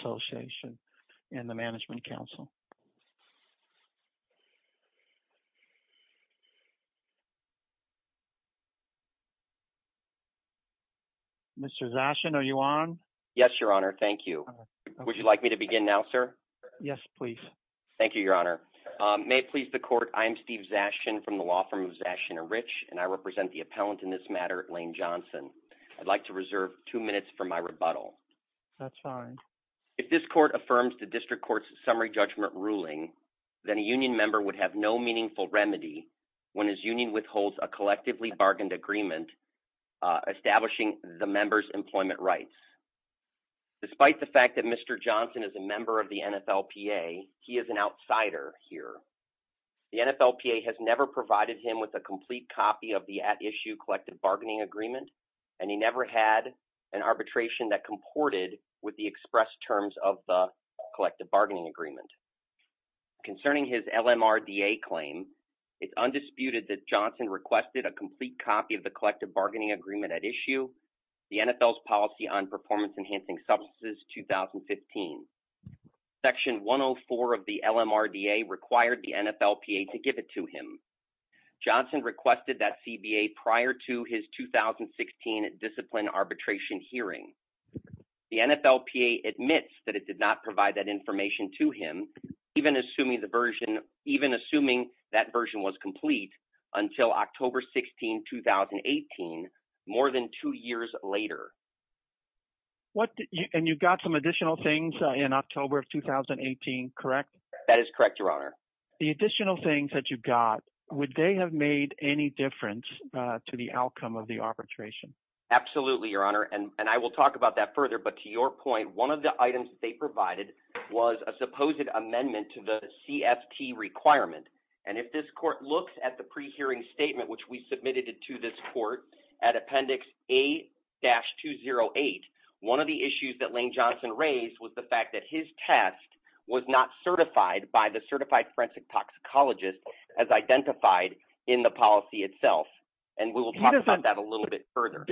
Association, and the Management Council. Mr. Zashin, are you on? Yes, Your Honor. Thank you. Would you like me to begin now, sir? Yes, please. Thank you, Your Honor. May it please the Court, I am Steve Zashin from the law firm of Zashin & Rich, and I represent the appellant in this matter, Lane Johnson. I'd like to reserve two minutes for my rebuttal. That's fine. If this Court affirms the District Court's summary judgment ruling, then a union member would have no meaningful remedy when his union withholds a collectively bargained agreement establishing the member's employment rights. Despite the fact that Mr. Johnson is a member of the NFLPA, he is an outsider here. The NFLPA has never provided him with a complete copy of the at-issue collective bargaining agreement, and he never had an arbitration that comported with the express terms of the collective bargaining agreement. Concerning his LMRDA claim, it's undisputed that Johnson requested a complete copy of the collective bargaining agreement at issue, the NFL's policy on performance-enhancing substances, 2015. Section 104 of the LMRDA required the NFLPA to give it to him. Johnson requested that CBA prior to his 2016 discipline arbitration hearing. The NFLPA admits that it did not provide that information to him, even assuming that version was complete, until October 16, 2018, more than two years later. And you got some additional things in October of 2018, correct? That is correct, Your Honor. The additional things that you got, would they have made any difference to the outcome of the arbitration? Absolutely, Your Honor. And I will talk about that further, but to your point, one of the items that they provided was a supposed amendment to the CFT requirement. And if this court looks at the pre-hearing statement, which we submitted to this court at Appendix A-208, one of the issues that Lane Johnson raised was the fact that his test was not certified by the certified forensic toxicologist as identified in the policy itself. And we will talk about that a little bit further.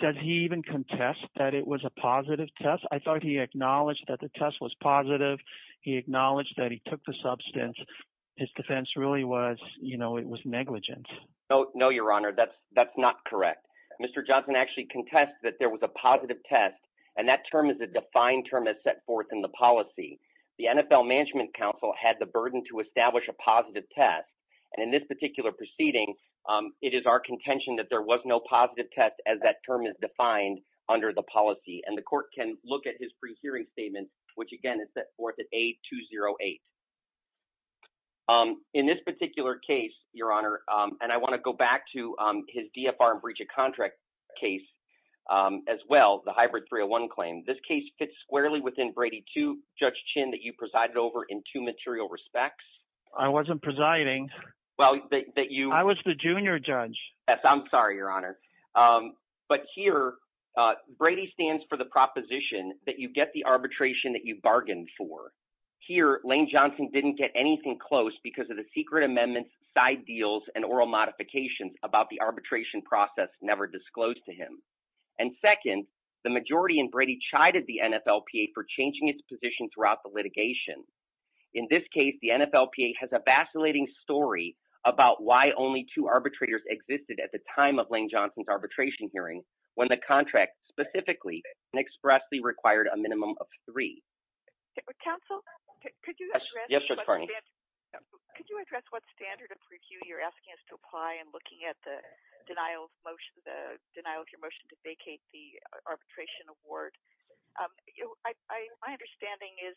Does he even contest that it was a positive test? I thought he acknowledged that the test was positive. He acknowledged that he took the substance. His defense really was it was negligent. No, Your Honor. That's not correct. Mr. Johnson actually contested that there was a positive test, and that term is a defined term as set forth in the policy. The NFL Management Council had the burden to establish a positive test. And in this particular proceeding, it is our contention that there was no positive test as that term is defined under the policy. And the court can look at his pre-hearing statement, which, again, is set forth at A-208. In this particular case, Your Honor, and I want to go back to his DFR and breach of contract case as well, the hybrid 301 claim. This case fits squarely within Brady 2, Judge Chinn, that you presided over in two material respects. I wasn't presiding. I was the junior judge. Yes, I'm sorry, Your Honor. But here, Brady stands for the proposition that you get the arbitration that you bargained for. Here, Lane Johnson didn't get anything close because of the secret amendments, side deals, and oral modifications about the arbitration process never disclosed to him. And second, the majority in Brady chided the NFLPA for changing its position throughout the litigation. In this case, the NFLPA has a vacillating story about why only two arbitrators existed at the time of Lane Johnson's arbitration hearing when the contract specifically and expressly required a minimum of three. Counsel, could you address what standard of review you're asking us to apply in looking at the denial of your motion to vacate the arbitration award? My understanding is,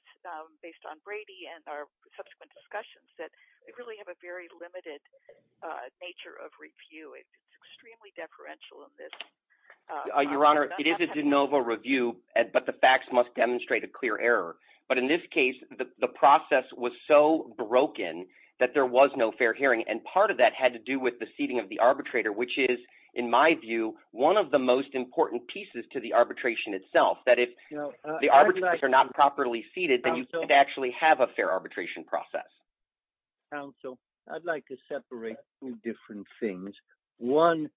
based on Brady and our subsequent discussions, that we really have a very limited nature of review. It's extremely deferential in this. Your Honor, it is a de novo review, but the facts must demonstrate a clear error. But in this case, the process was so broken that there was no fair hearing. And part of that had to do with the seating of the arbitrator, which is, in my view, one of the most important pieces to the arbitration itself, that if the arbitrators are not properly seated, then you can't actually have a fair arbitration process. Counsel, I'd like to separate two different things. One,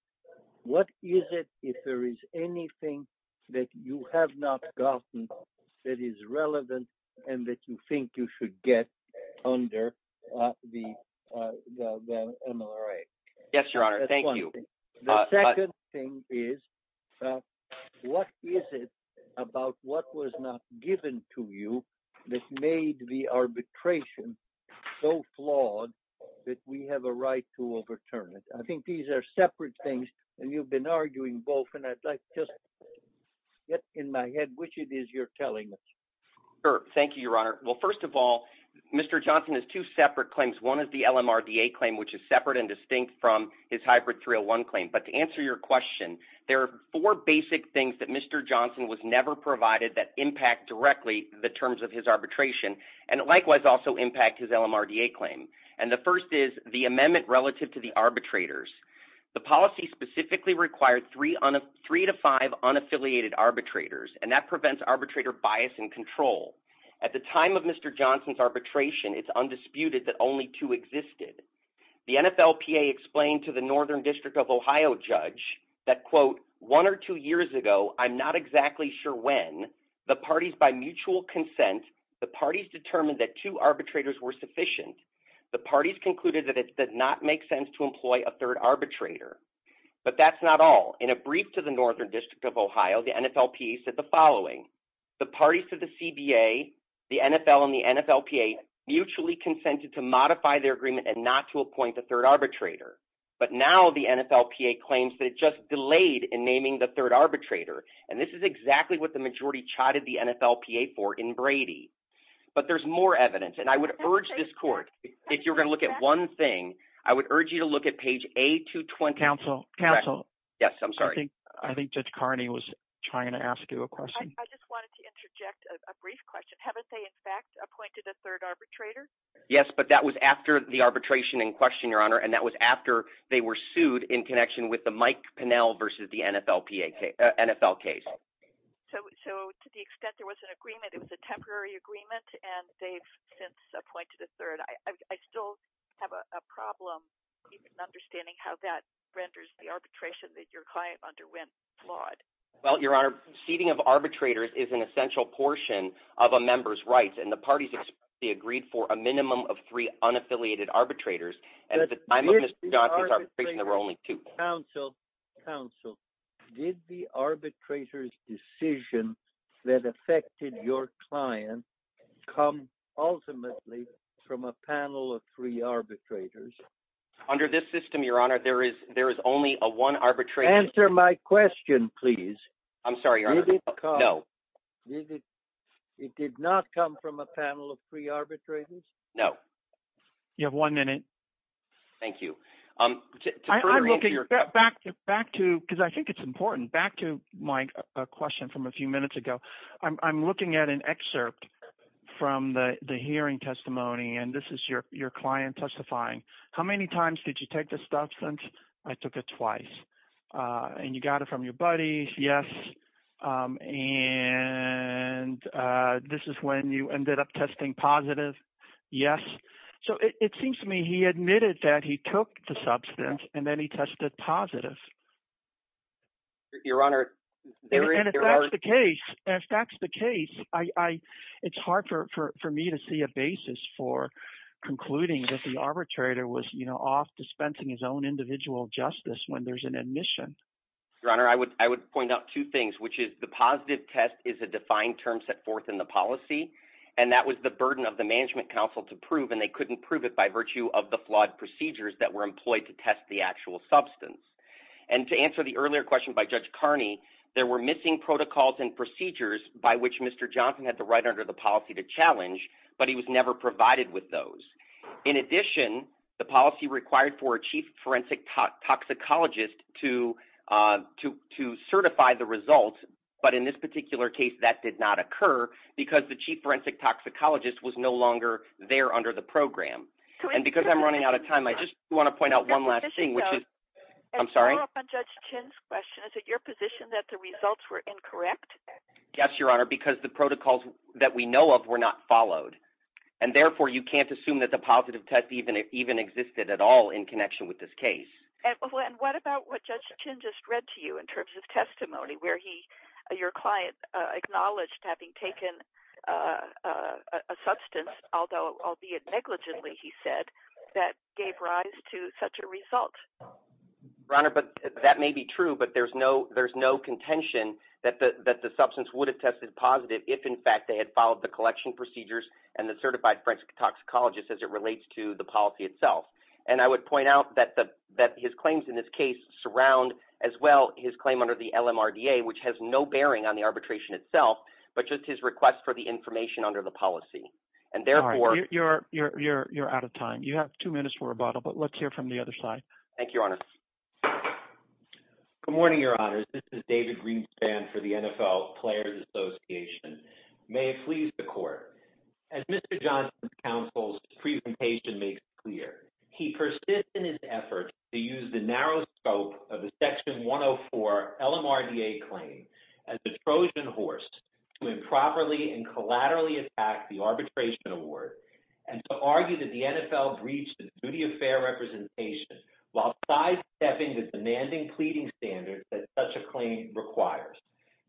what is it, if there is anything that you have not gotten that is relevant and that you think you should get under the MRA? Yes, Your Honor. Thank you. The second thing is, what is it about what was not given to you that made the arbitration so flawed that we have a right to overturn it? I think these are separate things, and you've been arguing both. And I'd like to just get in my head which it is you're telling us. Well, first of all, Mr. Johnson has two separate claims. One is the LMRDA claim, which is separate and distinct from his hybrid 301 claim. But to answer your question, there are four basic things that Mr. Johnson was never provided that impact directly the terms of his arbitration and likewise also impact his LMRDA claim. And the first is the amendment relative to the arbitrators. The policy specifically required three to five unaffiliated arbitrators, and that prevents arbitrator bias and control. At the time of Mr. Johnson's arbitration, it's undisputed that only two existed. The NFLPA explained to the Northern District of Ohio judge that, quote, one or two years ago, I'm not exactly sure when, the parties by mutual consent, the parties determined that two arbitrators were sufficient. The parties concluded that it did not make sense to employ a third arbitrator. But that's not all. In a brief to the Northern District of Ohio, the NFLPA said the following. The parties to the CBA, the NFL, and the NFLPA mutually consented to modify their agreement and not to appoint a third arbitrator. But now the NFLPA claims that it just delayed in naming the third arbitrator, and this is exactly what the majority chided the NFLPA for in Brady. But there's more evidence, and I would urge this court, if you're going to look at one thing, I would urge you to look at page A220. Counsel, counsel. Yes, I'm sorry. I think Judge Carney was trying to ask you a question. I just wanted to interject a brief question. Haven't they, in fact, appointed a third arbitrator? Yes, but that was after the arbitration in question, Your Honor, and that was after they were sued in connection with the Mike Pinnell versus the NFLPA case – NFL case. So to the extent there was an agreement, it was a temporary agreement, and they've since appointed a third. I still have a problem understanding how that renders the arbitration that your client underwent flawed. Well, Your Honor, seating of arbitrators is an essential portion of a member's rights, and the parties agreed for a minimum of three unaffiliated arbitrators. At the time of Mr. Johnson's arbitration, there were only two. Counsel, counsel, did the arbitrator's decision that affected your client come ultimately from a panel of three arbitrators? Under this system, Your Honor, there is only a one arbitrator. Answer my question, please. I'm sorry, Your Honor. Did it come? No. It did not come from a panel of three arbitrators? No. You have one minute. Thank you. I'm looking – back to – because I think it's important. Back to my question from a few minutes ago. I'm looking at an excerpt from the hearing testimony, and this is your client testifying. How many times did you take this substance? I took it twice. And you got it from your buddies? Yes. And this is when you ended up testing positive? Yes. So it seems to me he admitted that he took the substance, and then he tested positive. Your Honor, there is – And if that's the case, it's hard for me to see a basis for concluding that the arbitrator was off dispensing his own individual justice when there's an admission. Your Honor, I would point out two things, which is the positive test is a defined term set forth in the policy, and that was the burden of the Management Council to prove, and they couldn't prove it by virtue of the flawed procedures that were employed to test the actual substance. And to answer the earlier question by Judge Carney, there were missing protocols and procedures by which Mr. Johnson had the right under the policy to challenge, but he was never provided with those. In addition, the policy required for a Chief Forensic Toxicologist to certify the results, but in this particular case that did not occur because the Chief Forensic Toxicologist was no longer there under the program. And because I'm running out of time, I just want to point out one last thing, which is – I'm sorry? To follow up on Judge Chin's question, is it your position that the results were incorrect? Yes, Your Honor, because the protocols that we know of were not followed. And therefore, you can't assume that the positive test even existed at all in connection with this case. And what about what Judge Chin just read to you in terms of testimony, where he – your client acknowledged having taken a substance, although – albeit negligently, he said, that gave rise to such a result? Your Honor, that may be true, but there's no contention that the substance would have tested positive if, in fact, they had followed the collection procedures and the certified forensic toxicologist as it relates to the policy itself. And I would point out that his claims in this case surround as well his claim under the LMRDA, which has no bearing on the arbitration itself, but just his request for the information under the policy. And therefore – You're out of time. You have two minutes for rebuttal, but let's hear from the other side. Thank you, Your Honor. Good morning, Your Honors. This is David Greenspan for the NFL Players Association. May it please the Court, as Mr. Johnson's counsel's presentation makes clear, he persisted in his effort to use the narrow scope of the Section 104 LMRDA claim as the Trojan horse to improperly and collaterally attack the arbitration award and to argue that the NFL breached its duty of fair representation while sidestepping the demanding pleading standards that such a claim requires.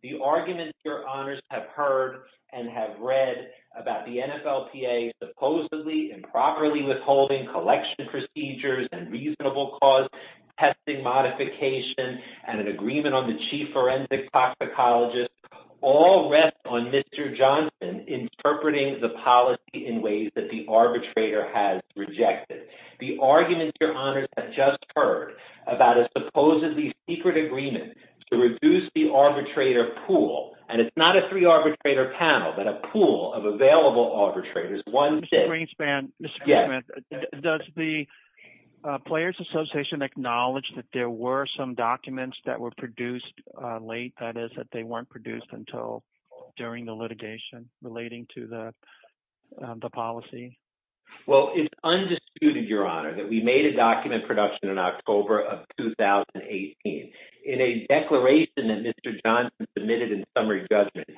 The arguments, Your Honors, have heard and have read about the NFLPA supposedly improperly withholding collection procedures and reasonable cause testing modification and an agreement on the chief forensic toxicologist all rest on Mr. Johnson interpreting the policy in ways that the arbitrator has rejected. The arguments, Your Honors, have just heard about a supposedly secret agreement to reduce the arbitrator pool, and it's not a three-arbitrator panel, but a pool of available arbitrators one day. Mr. Greenspan, does the Players Association acknowledge that there were some documents that were produced late, that is, that they weren't produced until during the litigation relating to the policy? Well, it's undisputed, Your Honor, that we made a document production in October of 2018 in a declaration that Mr. Johnson submitted in summary judgment.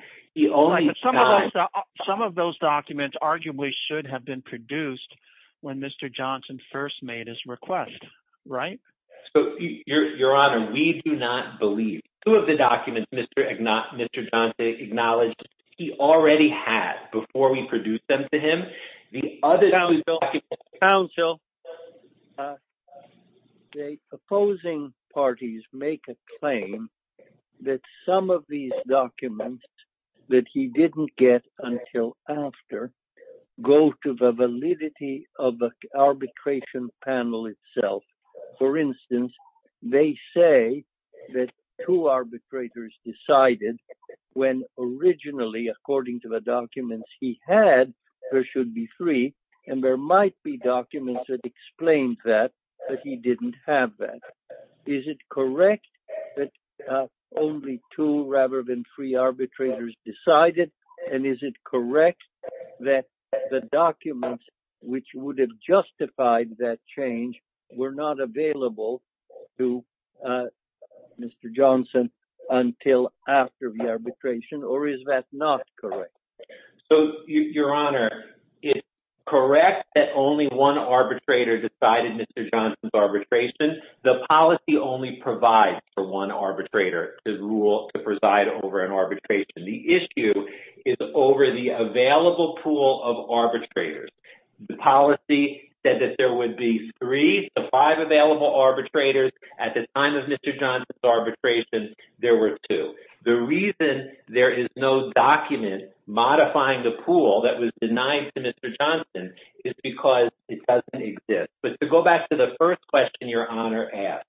Some of those documents arguably should have been produced when Mr. Johnson first made his request, right? So, Your Honor, we do not believe two of the documents Mr. Johnson acknowledged he already had before we produced them to him. The opposing parties make a claim that some of these documents that he didn't get until after go to the validity of the arbitration panel itself. For instance, they say that two arbitrators decided when originally, according to the documents he had, there should be three, and there might be documents that explain that, but he didn't have that. Is it correct that only two rather than three arbitrators decided, and is it correct that the documents which would have justified that change were not available to Mr. Johnson until after the arbitration, or is that not correct? So, Your Honor, it's correct that only one arbitrator decided Mr. Johnson's arbitration. The policy only provides for one arbitrator to preside over an arbitration. The issue is over the available pool of arbitrators. The policy said that there would be three to five available arbitrators. At the time of Mr. Johnson's arbitration, there were two. The reason there is no document modifying the pool that was denied to Mr. Johnson is because it doesn't exist. But to go back to the first question Your Honor asked,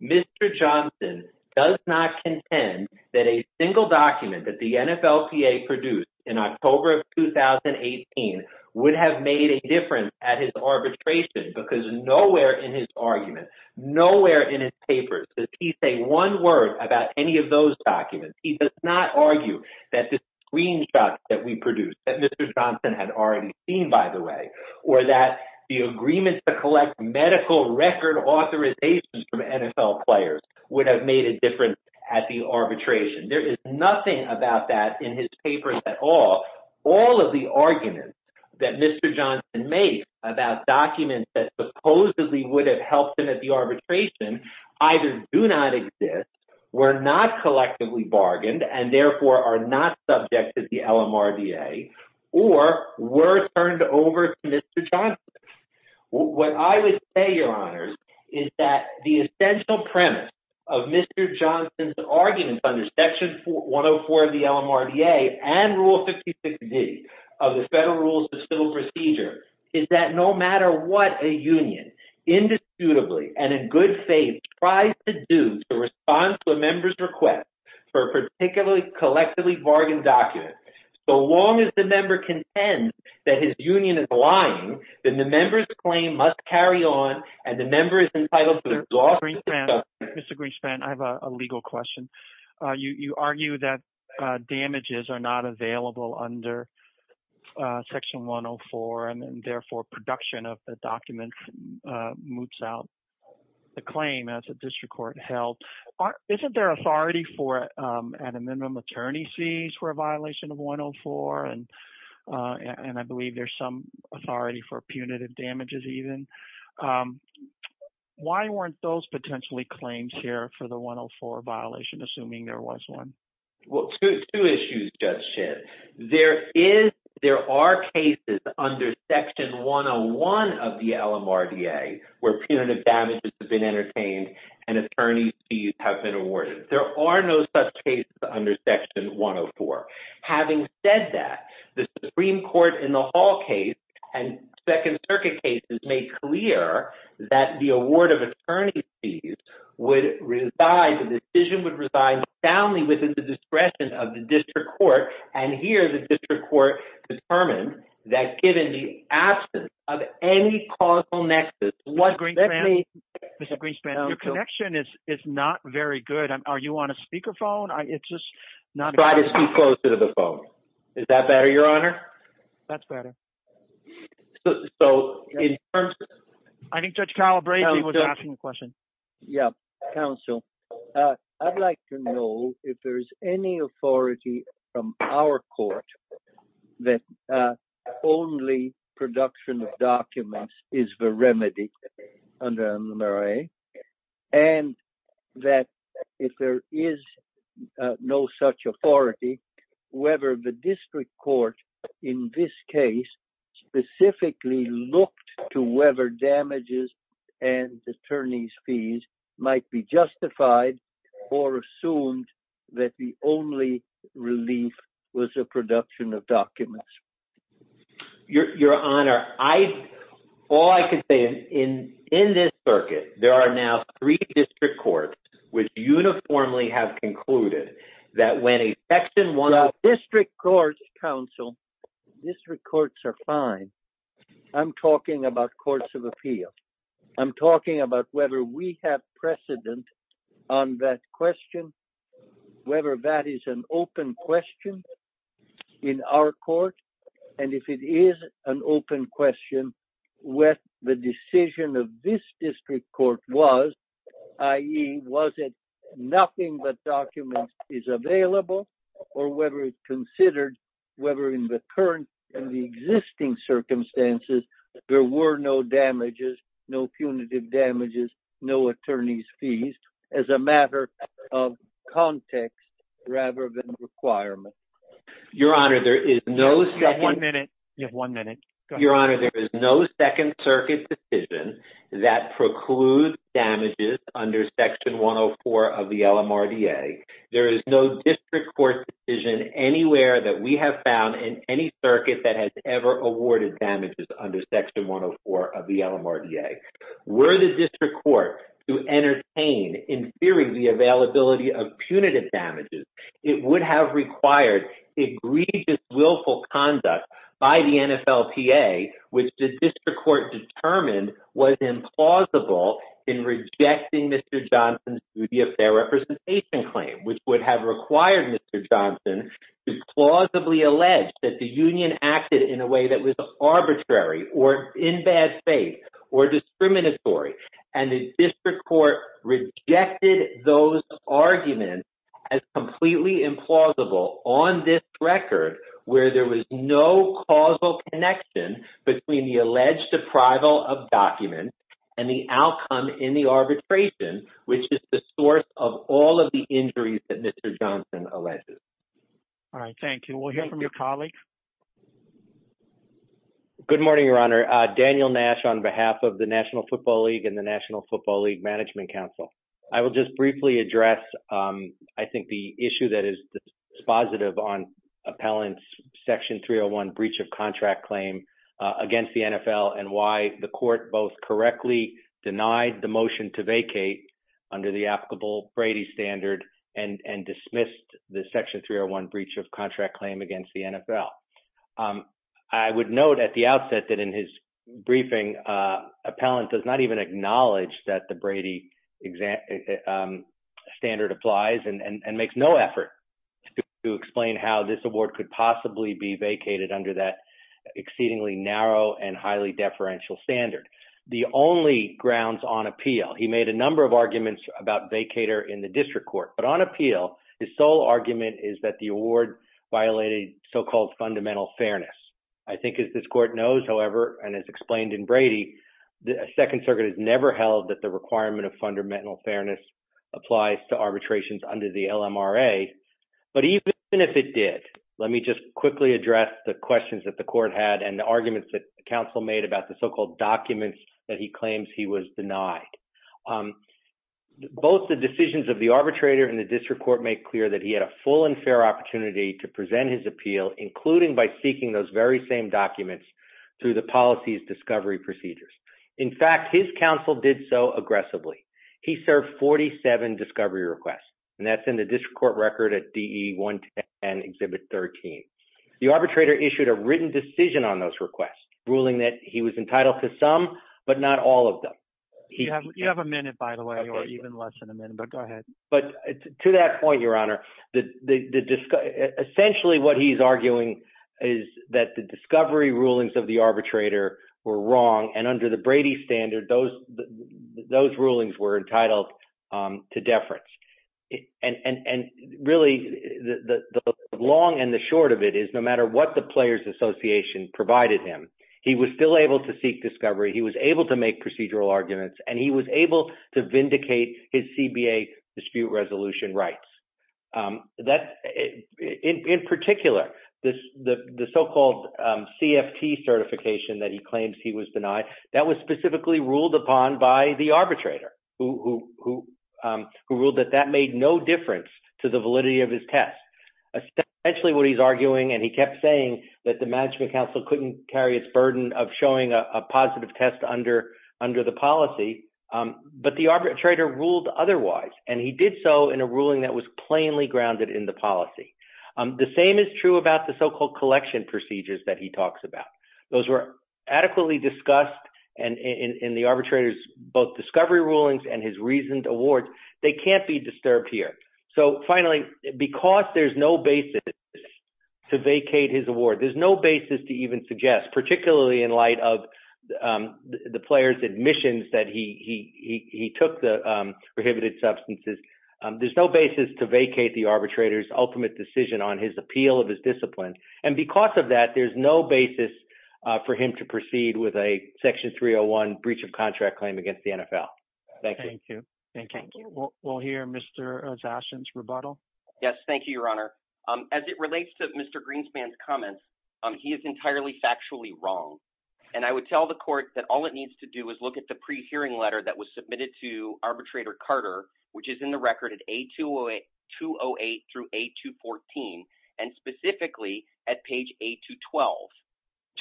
Mr. Johnson does not contend that a single document that the NFLPA produced in October of 2018 would have made a difference at his arbitration because nowhere in his arguments, nowhere in his papers does he say one word about any of those documents. He does not argue that the screenshots that we produced that Mr. Johnson had already seen, by the way, or that the agreement to collect medical record authorizations from NFL players would have made a difference at the arbitration. There is nothing about that in his papers at all. All of the arguments that Mr. Johnson made about documents that supposedly would have helped him at the arbitration either do not exist, were not collectively bargained, and therefore are not subject to the LMRDA, or were turned over to Mr. Johnson. What I would say, Your Honors, is that the essential premise of Mr. Johnson's arguments under Section 104 of the LMRDA and Rule 56D of the Federal Rules of Civil Procedure is that no matter what a union indisputably and in good faith tries to do to respond to a member's request for a particularly collectively bargained document, so long as the member contends that his union is lying, then the member's claim must carry on, and the member is entitled to the loss of the document. I have a legal question. You argue that damages are not available under Section 104, and therefore production of the document moots out the claim as a district court held. Isn't there authority for an amendment when an attorney sees for a violation of 104, and I believe there's some authority for punitive damages even? Why weren't those potentially claims here for the 104 violation, assuming there was one? Well, two issues, Judge Schiff. There are cases under Section 101 of the LMRDA where punitive damages have been entertained and attorney's fees have been awarded. There are no such cases under Section 104. Having said that, the Supreme Court in the Hall case and Second Circuit cases made clear that the award of attorney's fees would reside – the decision would reside soundly within the discretion of the district court, and here the district court determined that given the absence of any causal nexus… Mr. Greenspan, your connection is not very good. Are you on a speakerphone? It's just not… Try to speak closer to the phone. Is that better, Your Honor? That's better. So, in terms of… I think Judge Calabresi was asking a question. Yeah, counsel. I'd like to know if there's any authority from our court that only production of documents is the remedy under LMRDA, and that if there is no such authority, whether the district court in this case specifically looked to whether damages and attorney's fees might be justified or assumed that the only relief was the production of documents? Your Honor, all I can say is in this circuit, there are now three district courts which uniformly have concluded that when a Section 104… District courts are fine. I'm talking about courts of appeal. I'm talking about whether we have precedent on that question, whether that is an open question in our court, and if it is an open question, what the decision of this district court was, i.e., was it nothing but documents is available, or whether it's considered whether in the current and the existing circumstances, there were no damages, no punitive damages, no attorney's fees, as a matter of context rather than requirement? Your Honor, there is no… You have one minute. You have one minute. Go ahead. Your Honor, there is no Second Circuit decision that precludes damages under Section 104 of the LMRDA. There is no district court decision anywhere that we have found in any circuit that has ever awarded damages under Section 104 of the LMRDA. Were the district court to entertain, in theory, the availability of punitive damages, it would have required egregious willful conduct by the NFLPA, which the district court determined was implausible in rejecting Mr. Johnson's duty of fair representation claim, which would have required Mr. Johnson to plausibly allege that the union acted in a way that was arbitrary or in bad faith or discriminatory, and the district court rejected those arguments as completely implausible on this record where there was no causal connection between the alleged deprival of documents and the outcome in the arbitration, which is the source of all of the injuries that Mr. Johnson alleges. All right. Thank you. We'll hear from your colleague. Good morning, Your Honor. Daniel Nash on behalf of the National Football League and the National Football League Management Council. I will just briefly address, I think, the issue that is dispositive on appellant's Section 301 breach of contract claim against the NFL and why the court both correctly denied the motion to vacate under the applicable Brady standard and dismissed the Section 301 breach of contract claim against the NFL. I would note at the outset that in his briefing, appellant does not even acknowledge that the Brady standard applies and makes no effort to explain how this award could possibly be vacated under that exceedingly narrow and highly deferential standard. The only grounds on appeal, he made a number of arguments about vacater in the district court, but on appeal, his sole argument is that the award violated so-called fundamental fairness. I think as this court knows, however, and as explained in Brady, the Second Circuit has never held that the requirement of fundamental fairness applies to arbitrations under the LMRA. But even if it did, let me just quickly address the questions that the court had and the arguments that counsel made about the so-called documents that he claims he was denied. Both the decisions of the arbitrator and the district court make clear that he had a full and fair opportunity to present his appeal, including by seeking those very same documents through the policies discovery procedures. In fact, his counsel did so aggressively. He served 47 discovery requests, and that's in the district court record at DE 110 Exhibit 13. The arbitrator issued a written decision on those requests, ruling that he was entitled to some, but not all of them. You have a minute, by the way, or even less than a minute, but go ahead. But to that point, Your Honor, essentially what he's arguing is that the discovery rulings of the arbitrator were wrong, and under the Brady standard, those rulings were entitled to deference. And really, the long and the short of it is no matter what the Players Association provided him, he was still able to seek discovery. He was able to make procedural arguments, and he was able to vindicate his CBA dispute resolution rights. In particular, the so-called CFT certification that he claims he was denied, that was specifically ruled upon by the arbitrator, who ruled that that made no difference to the validity of his test. Essentially what he's arguing, and he kept saying that the Management Council couldn't carry its burden of showing a positive test under the policy. But the arbitrator ruled otherwise, and he did so in a ruling that was plainly grounded in the policy. The same is true about the so-called collection procedures that he talks about. Those were adequately discussed in the arbitrator's both discovery rulings and his reasoned awards. They can't be disturbed here. So finally, because there's no basis to vacate his award, there's no basis to even suggest, particularly in light of the players' admissions that he took the prohibited substances, there's no basis to vacate the arbitrator's ultimate decision on his appeal of his discipline. And because of that, there's no basis for him to proceed with a Section 301 breach of contract claim against the NFL. Thank you. Thank you. We'll hear Mr. Zashin's rebuttal. Thank you, Your Honor. As it relates to Mr. Greenspan's comments, he is entirely factually wrong. And I would tell the court that all it needs to do is look at the pre-hearing letter that was submitted to Arbitrator Carter, which is in the record at A208 through A214, and specifically at page A212.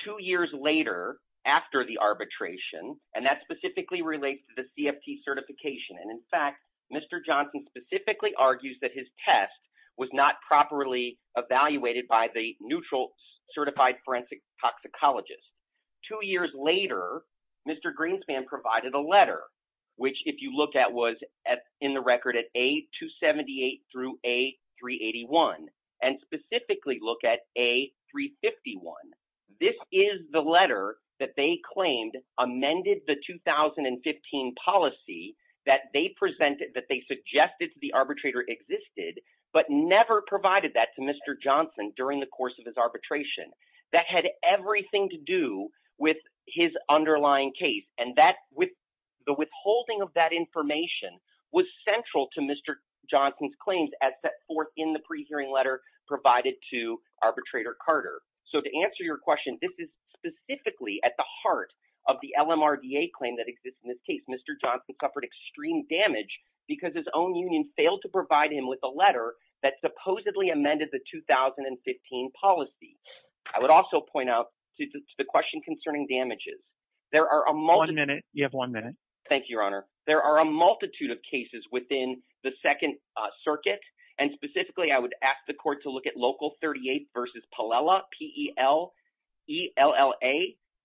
Two years later, after the arbitration, and that specifically relates to the CFT certification, and in fact, Mr. Johnson specifically argues that his test was not properly evaluated by the neutral certified forensic toxicologist. Two years later, Mr. Greenspan provided a letter, which if you look at was in the record at A278 through A381, and specifically look at A351. This is the letter that they claimed amended the 2015 policy that they suggested to the arbitrator existed, but never provided that to Mr. Johnson during the course of his arbitration. That had everything to do with his underlying case, and the withholding of that information was central to Mr. Johnson's claims as set forth in the pre-hearing letter provided to Arbitrator Carter. So to answer your question, this is specifically at the heart of the LMRDA claim that exists in this case. Mr. Johnson suffered extreme damage because his own union failed to provide him with a letter that supposedly amended the 2015 policy. I would also point out to the question concerning damages, there are a multitude... One minute. You have one minute.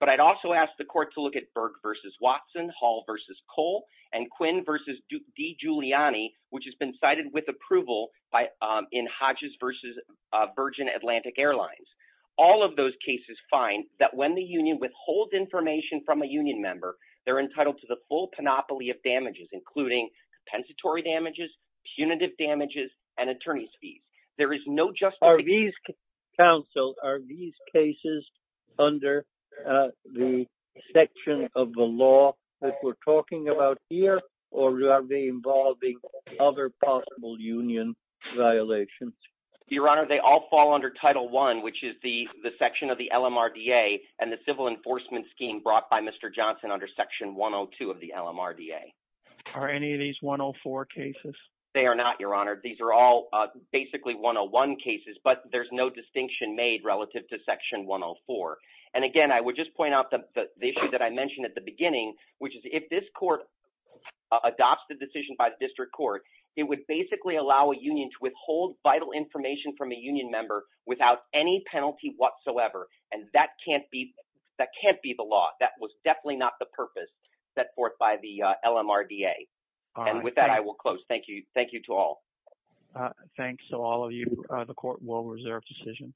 But I'd also ask the court to look at Berg v. Watson, Hall v. Cole, and Quinn v. DiGiuliani, which has been cited with approval in Hodges v. Virgin Atlantic Airlines. All of those cases find that when the union withholds information from a union member, they're entitled to the full panoply of damages, including compensatory damages, punitive damages, and attorney's fees. Are these cases under the section of the law that we're talking about here, or are they involving other possible union violations? Your Honor, they all fall under Title I, which is the section of the LMRDA and the civil enforcement scheme brought by Mr. Johnson under Section 102 of the LMRDA. Are any of these 104 cases? They are not, Your Honor. These are all basically 101 cases, but there's no distinction made relative to Section 104. And again, I would just point out the issue that I mentioned at the beginning, which is if this court adopts the decision by the district court, it would basically allow a union to withhold vital information from a union member without any penalty whatsoever. And that can't be the law. That was definitely not the purpose set forth by the LMRDA. And with that, I will close. Thank you. Thank you to all. Thanks to all of you. The court will reserve decision.